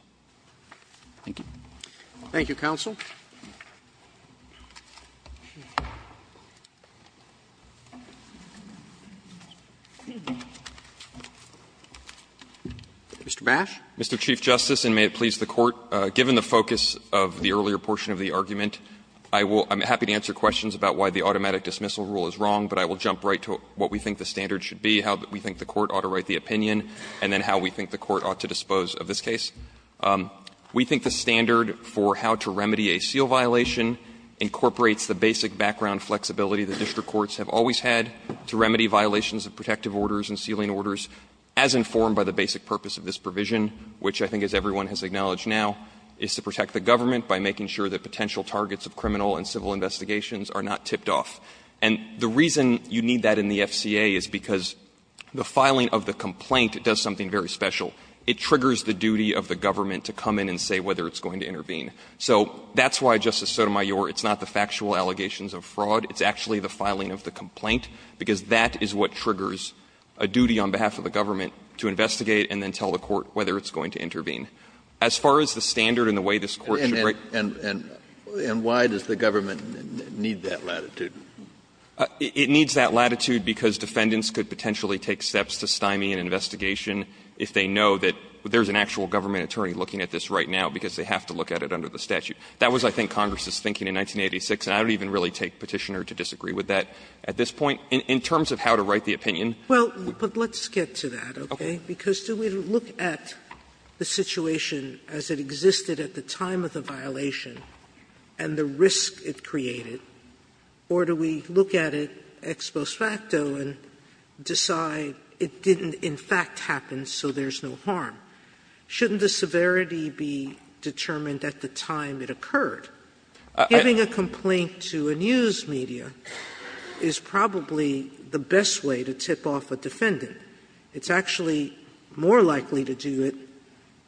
Thank you. Roberts Thank you, counsel. Mr. Bash. Bash, Mr. Chief Justice, and may it please the Court, given the focus of the earlier portion of the argument, I will be happy to answer questions about why the automatic dismissal rule is wrong, but I will jump right to what we think the standard should be, how we think the Court ought to write the opinion, and then how we think the Court ought to dispose of this case. We think the standard for how to remedy a seal violation incorporates the basic background flexibility the district courts have always had to remedy violations of protective orders and sealing orders, as informed by the basic purpose of this provision, which I think, as everyone has acknowledged now, is to protect the government by making sure that potential targets of criminal and civil investigations are not tipped off. And the reason you need that in the FCA is because the filing of the complaint does something very special. It triggers the duty of the government to come in and say whether it's going to intervene. So that's why, Justice Sotomayor, it's not the factual allegations of fraud. It's actually the filing of the complaint, because that is what triggers a duty on behalf of the government to investigate and then tell the Court whether it's going to intervene. As far as the standard and the way this Court should write the opinion of the district courts, I think the standard should be that it should be that it should be that the statute. That was, I think, Congress's thinking in 1986, and I don't even really take Petitioner to disagree with that at this point. In terms of how to write the opinion. Sotomayor, but let's get to that, okay? Because do we look at the situation as it existed at the time of the violation and the risk it created, or do we look at it ex post facto and decide it didn't in fact happen, so there's no harm in it? Sotomayor, I don't think we look at the situation as it existed at the time of the violation and the risk it created, so there's no harm in it, so there's no harm. Shouldn't the severity be determined at the time it occurred? Giving a complaint to a news media is probably the best way to tip off a defendant. It's actually more likely to do it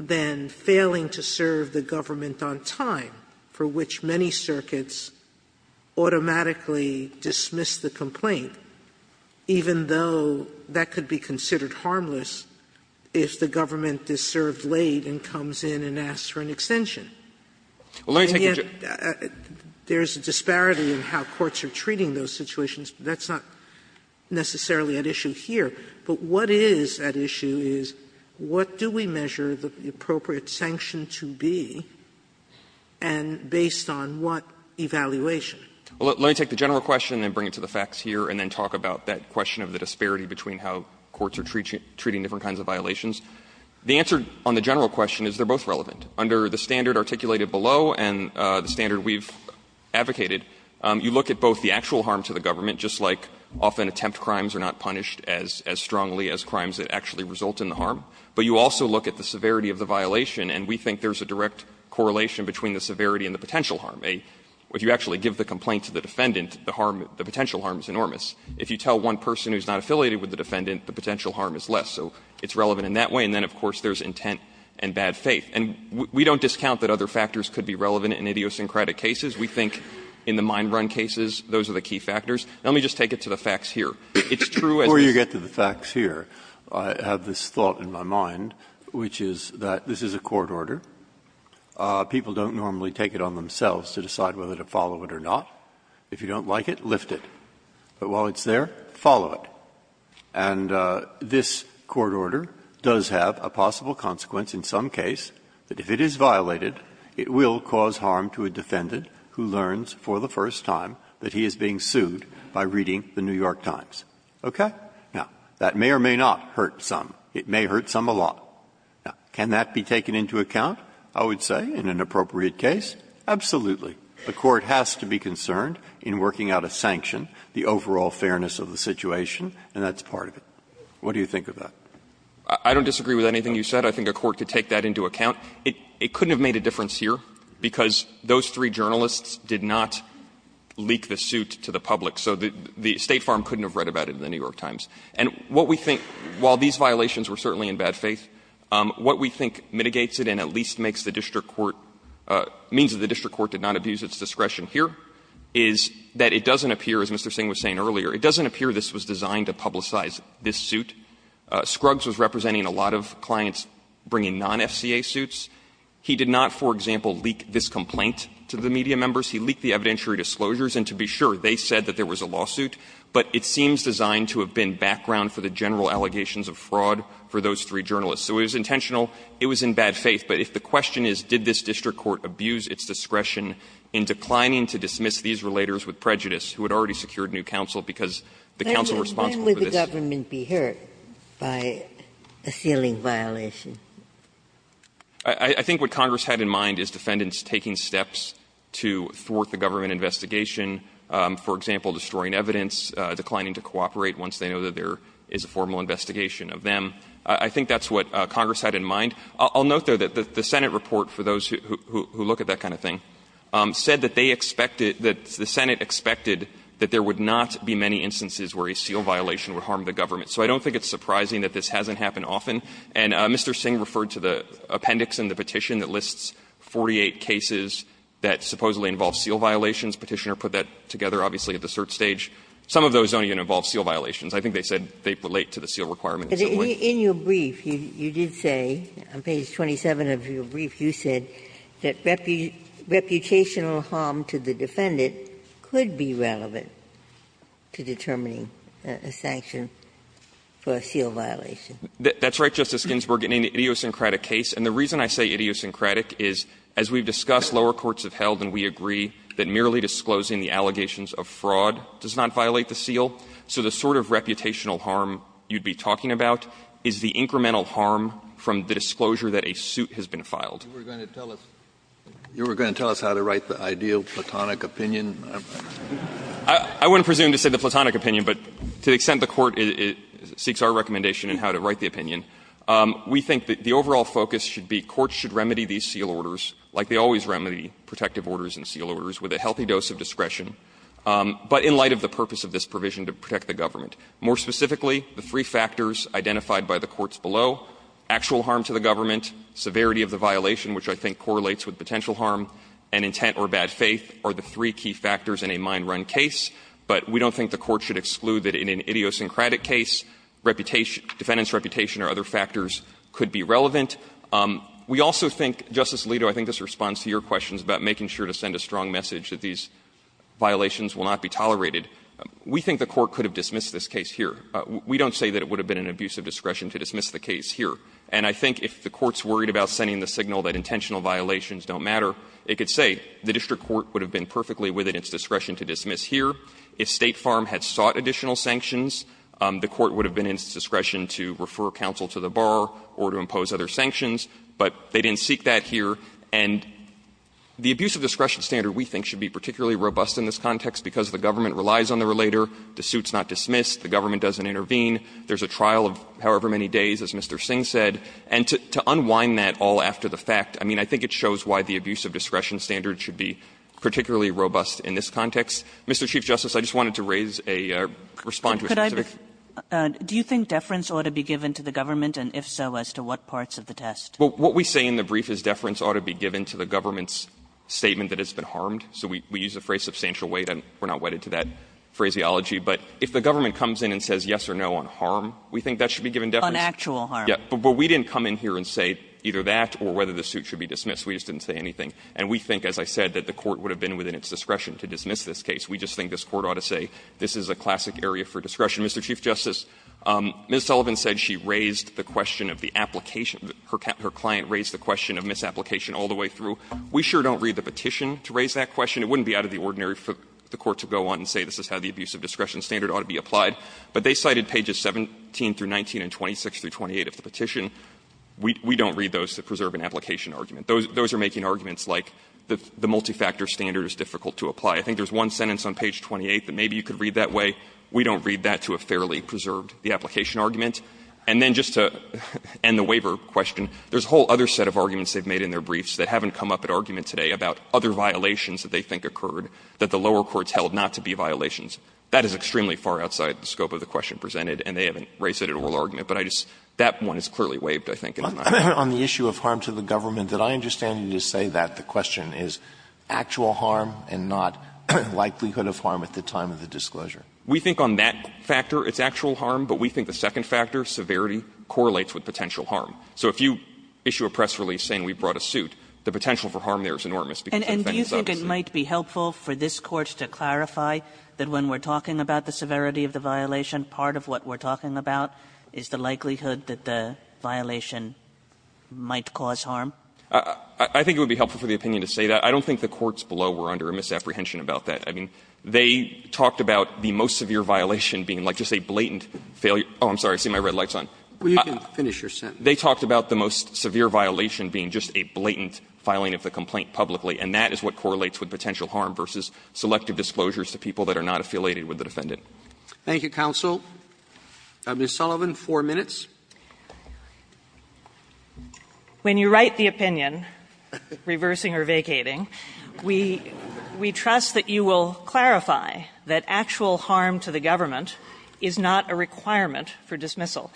than failing to serve the government on time, for which many circuits automatically dismiss the complaint, even though that could be considered harmless if the government is served late and comes in and asks for an extension. And yet, there's a disparity in how courts are treating those situations. That's not necessarily at issue here. But what is at issue is what do we measure the appropriate sanction to be? And based on what evaluation? Let me take the general question and bring it to the facts here and then talk about that question of the disparity between how courts are treating different kinds of violations. The answer on the general question is they're both relevant. Under the standard articulated below and the standard we've advocated, you look at both the actual harm to the government, just like often attempt crimes are not punished as strongly as crimes that actually result in the harm, but you also look at the severity of the violation, and we think there's a direct correlation between the severity and the potential harm. If you actually give the complaint to the defendant, the potential harm is enormous. If you tell one person who's not affiliated with the defendant, the potential harm is less. So it's relevant in that way. And then, of course, there's intent and bad faith. And we don't discount that other factors could be relevant in idiosyncratic cases. We think in the mine run cases, those are the key factors. Let me just take it to the facts here. It's true as this is the case. This is a court order. People don't normally take it on themselves to decide whether to follow it or not. If you don't like it, lift it. But while it's there, follow it. And this court order does have a possible consequence in some case that if it is violated, it will cause harm to a defendant who learns for the first time that he is being sued by reading the New York Times. Okay? Now, that may or may not hurt some. It may hurt some a lot. Now, can that be taken into account, I would say, in an appropriate case? Absolutely. The court has to be concerned in working out a sanction, the overall fairness of the situation, and that's part of it. What do you think of that? I don't disagree with anything you said. I think a court could take that into account. It couldn't have made a difference here because those three journalists did not leak the suit to the public. So the State Farm couldn't have read about it in the New York Times. And what we think, while these violations were certainly in bad faith, what we think mitigates it and at least makes the district court – means that the district court did not abuse its discretion here is that it doesn't appear, as Mr. Singh was saying earlier, it doesn't appear this was designed to publicize this suit. Scruggs was representing a lot of clients bringing non-FCA suits. He did not, for example, leak this complaint to the media members. He leaked the evidentiary disclosures. And to be sure, they said that there was a lawsuit. But it seems designed to have been background for the general allegations of fraud for those three journalists. So it was intentional. It was in bad faith. But if the question is, did this district court abuse its discretion in declining to dismiss these relators with prejudice, who had already secured new counsel because the counsel responsible for this – But when would the government be hurt by a ceiling violation? I think what Congress had in mind is defendants taking steps to thwart the government investigation, for example, destroying evidence, declining to cooperate once they know that there is a formal investigation of them. I think that's what Congress had in mind. I'll note, though, that the Senate report, for those who look at that kind of thing, said that they expected – that the Senate expected that there would not be many instances where a seal violation would harm the government. So I don't think it's surprising that this hasn't happened often. And Mr. Singh referred to the appendix in the petition that lists 48 cases that supposedly involve seal violations. Petitioner put that together, obviously, at the cert stage. Some of those don't even involve seal violations. I think they said they relate to the seal requirement in some way. Ginsburg. In your brief, you did say, on page 27 of your brief, you said that reputational harm to the defendant could be relevant to determining a sanction for a seal violation. That's right, Justice Ginsburg, in any idiosyncratic case. And the reason I say idiosyncratic is, as we've discussed, lower courts have held and we agree that merely disclosing the allegations of fraud does not violate the seal. So the sort of reputational harm you'd be talking about is the incremental harm from the disclosure that a suit has been filed. Kennedy. You were going to tell us how to write the ideal platonic opinion? I wouldn't presume to say the platonic opinion, but to the extent the Court seeks our recommendation in how to write the opinion, we think that the overall focus should be courts should remedy these seal orders like they always remedy protective orders and seal orders, with a healthy dose of discretion, but in light of the purpose of this provision to protect the government. More specifically, the three factors identified by the courts below, actual harm to the government, severity of the violation, which I think correlates with potential harm, and intent or bad faith are the three key factors in a mind-run case. But we don't think the Court should exclude that in an idiosyncratic case, reputation – defendant's reputation or other factors could be relevant. We also think, Justice Alito, I think this responds to your questions about making sure to send a strong message that these violations will not be tolerated. We think the Court could have dismissed this case here. We don't say that it would have been an abuse of discretion to dismiss the case here. And I think if the Court's worried about sending the signal that intentional violations don't matter, it could say the district court would have been perfectly with it in its discretion to dismiss here. If State Farm had sought additional sanctions, the Court would have been in its discretion to refer counsel to the bar or to impose other sanctions, but they didn't seek that here. And the abuse of discretion standard, we think, should be particularly robust in this context because the government relies on the relator, the suit's not dismissed, the government doesn't intervene. There's a trial of however many days, as Mr. Singh said, and to unwind that all after the fact, I mean, I think it shows why the abuse of discretion standard should be particularly robust in this context. Mr. Chief Justice, I just wanted to raise a or respond to a specific question. Kagan, do you think deference ought to be given to the government, and if so, as to what parts of the test? What we say in the brief is deference ought to be given to the government's statement that it's been harmed. So we use the phrase substantial weight, and we're not wedded to that phraseology. But if the government comes in and says yes or no on harm, we think that should be given deference. On actual harm. Yes. But we didn't come in here and say either that or whether the suit should be dismissed. We just didn't say anything. And we think, as I said, that the Court would have been within its discretion to dismiss this case. We just think this Court ought to say this is a classic area for discretion. Mr. Chief Justice, Ms. Sullivan said she raised the question of the application of the – her client raised the question of misapplication all the way through. We sure don't read the petition to raise that question. It wouldn't be out of the ordinary for the Court to go on and say this is how the abuse of discretion standard ought to be applied. But they cited pages 17 through 19 and 26 through 28 of the petition. We don't read those to preserve an application argument. Those are making arguments like the multi-factor standard is difficult to apply. I think there's one sentence on page 28 that maybe you could read that way. We don't read that to have fairly preserved the application argument. And then just to end the waiver question, there's a whole other set of arguments they've made in their briefs that haven't come up at argument today about other violations that they think occurred that the lower courts held not to be violations. That is extremely far outside the scope of the question presented, and they haven't raised it at oral argument. But I just – that one is clearly waived, I think. Alitoso, on the issue of harm to the government, did I understand you to say that the question is actual harm and not likelihood of harm at the time of the disclosure? We think on that factor it's actual harm, but we think the second factor, severity, correlates with potential harm. So if you issue a press release saying we brought a suit, the potential for harm there is enormous, because the defendant is obviously – And do you think it might be helpful for this Court to clarify that when we're talking about the severity of the violation, part of what we're talking about is the potential harm that might cause harm? I think it would be helpful for the opinion to say that. I don't think the courts below were under a misapprehension about that. I mean, they talked about the most severe violation being like just a blatant failure – oh, I'm sorry, I see my red light's on. Well, you can finish your sentence. They talked about the most severe violation being just a blatant filing of the complaint publicly, and that is what correlates with potential harm versus selective disclosures to people that are not affiliated with the defendant. Thank you, counsel. Ms. Sullivan, four minutes. When you write the opinion, reversing or vacating, we – we trust that you will clarify that actual harm to the government is not a requirement for dismissal.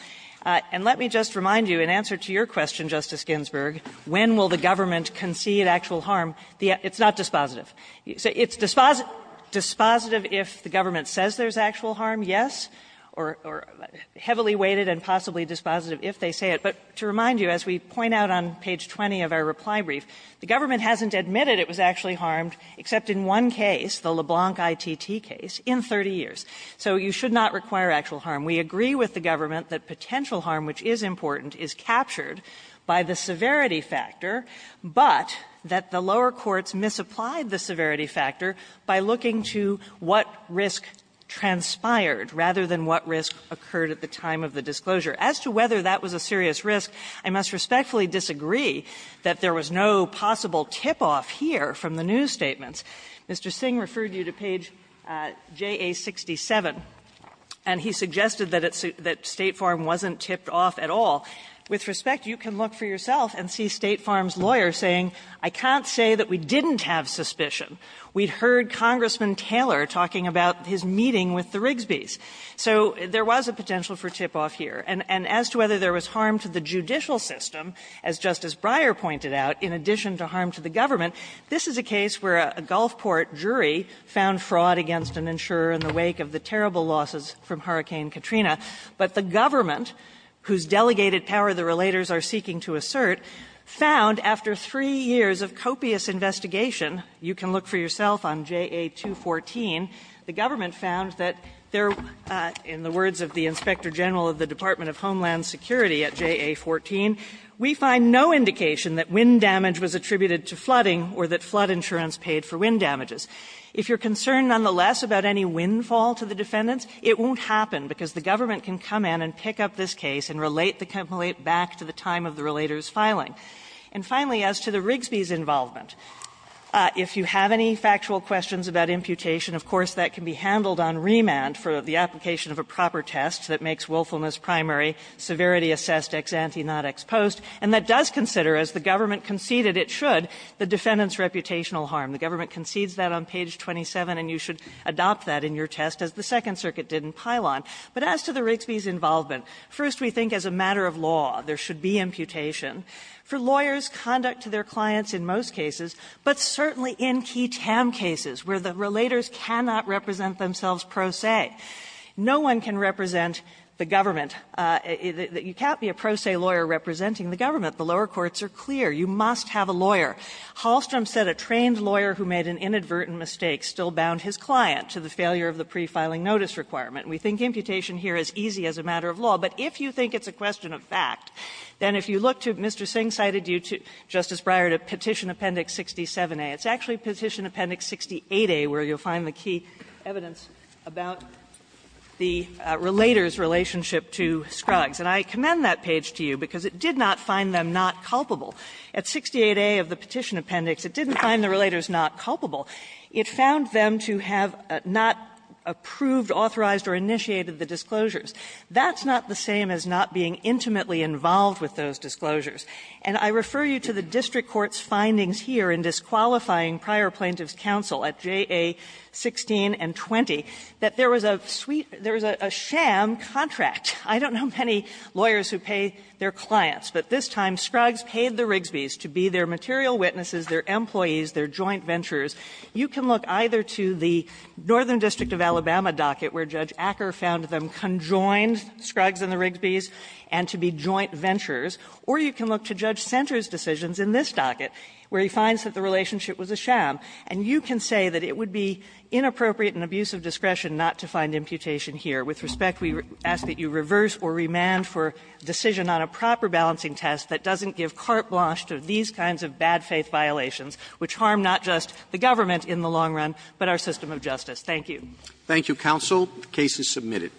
And let me just remind you, in answer to your question, Justice Ginsburg, when will the government concede actual harm? It's not dispositive. It's dispositive if the government says there's actual harm, yes, or heavily weighted and possibly dispositive if they say it. But to remind you, as we point out on page 20 of our reply brief, the government hasn't admitted it was actually harmed, except in one case, the LeBlanc ITT case, in 30 years. So you should not require actual harm. We agree with the government that potential harm, which is important, is captured by the severity factor, but that the lower courts misapplied the severity factor by looking to what risk transpired rather than what risk occurred at the time of the disclosure. As to whether that was a serious risk, I must respectfully disagree that there was no possible tip-off here from the news statements. Mr. Singh referred you to page JA67, and he suggested that it's – that Statefarm wasn't tipped off at all. With respect, you can look for yourself and see Statefarm's lawyer saying, I can't say that we didn't have suspicion. We'd heard Congressman Taylor talking about his meeting with the Rigsby's. So there was a potential for tip-off here. And as to whether there was harm to the judicial system, as Justice Breyer pointed out, in addition to harm to the government, this is a case where a Gulfport jury found fraud against an insurer in the wake of the terrible losses from Hurricane Katrina. But the government, whose delegated power the relators are seeking to assert, found after three years of copious investigation, you can look for yourself on JA214, the government found that there, in the words of the Inspector General of the Department of Homeland Security at JA14, we find no indication that wind damage was attributed to flooding or that flood insurance paid for wind damages. If you're concerned, nonetheless, about any windfall to the defendants, it won't happen, because the government can come in and pick up this case and relate the complaint back to the time of the relator's filing. And finally, as to the Rigsby's involvement, if you have any factual questions about imputation, of course, that can be handled on remand for the application of a proper test that makes willfulness primary, severity assessed, ex ante, not ex post, and that does consider, as the government conceded it should, the defendant's reputational harm. The government concedes that on page 27, and you should adopt that in your test, as the Second Circuit did in Pylon. But as to the Rigsby's involvement, first, we think as a matter of law, there should be imputation. For lawyers, conduct to their clients in most cases, but certainly in key TAM cases where the relators cannot represent themselves pro se. No one can represent the government. You can't be a pro se lawyer representing the government. The lower courts are clear. You must have a lawyer. Hallstrom said a trained lawyer who made an inadvertent mistake still bound his client to the failure of the pre-filing notice requirement. We think imputation here is easy as a matter of law. But if you think it's a question of fact, then if you look to Mr. Singh cited you to, Justice Breyer, to Petition Appendix 67A, it's actually Petition Appendix 68A where you'll find the key evidence about the relator's relationship to Scruggs. And I commend that page to you because it did not find them not culpable. At 68A of the Petition Appendix, it didn't find the relators not culpable. It found them to have not approved, authorized, or initiated the disclosures. That's not the same as not being intimately involved with those disclosures. And I refer you to the district court's findings here in disqualifying prior plaintiffs' counsel at JA 16 and 20 that there was a sham contract. I don't know many lawyers who pay their clients, but this time Scruggs paid the Rigsby's to be their material witnesses, their employees, their joint venturers. You can look either to the Northern District of Alabama docket where Judge Acker found them conjoined, Scruggs and the Rigsby's, and to be joint venturers, or you can look to Judge Senter's decisions in this docket where he finds that the relationship was a sham. And you can say that it would be inappropriate and abuse of discretion not to find imputation here. With respect, we ask that you reverse or remand for decision on a proper balancing test that doesn't give carte blanche to these kinds of bad faith violations, which harm not just the government in the long run, but our system of justice. Thank you. Roberts, Thank you, counsel. The case is submitted.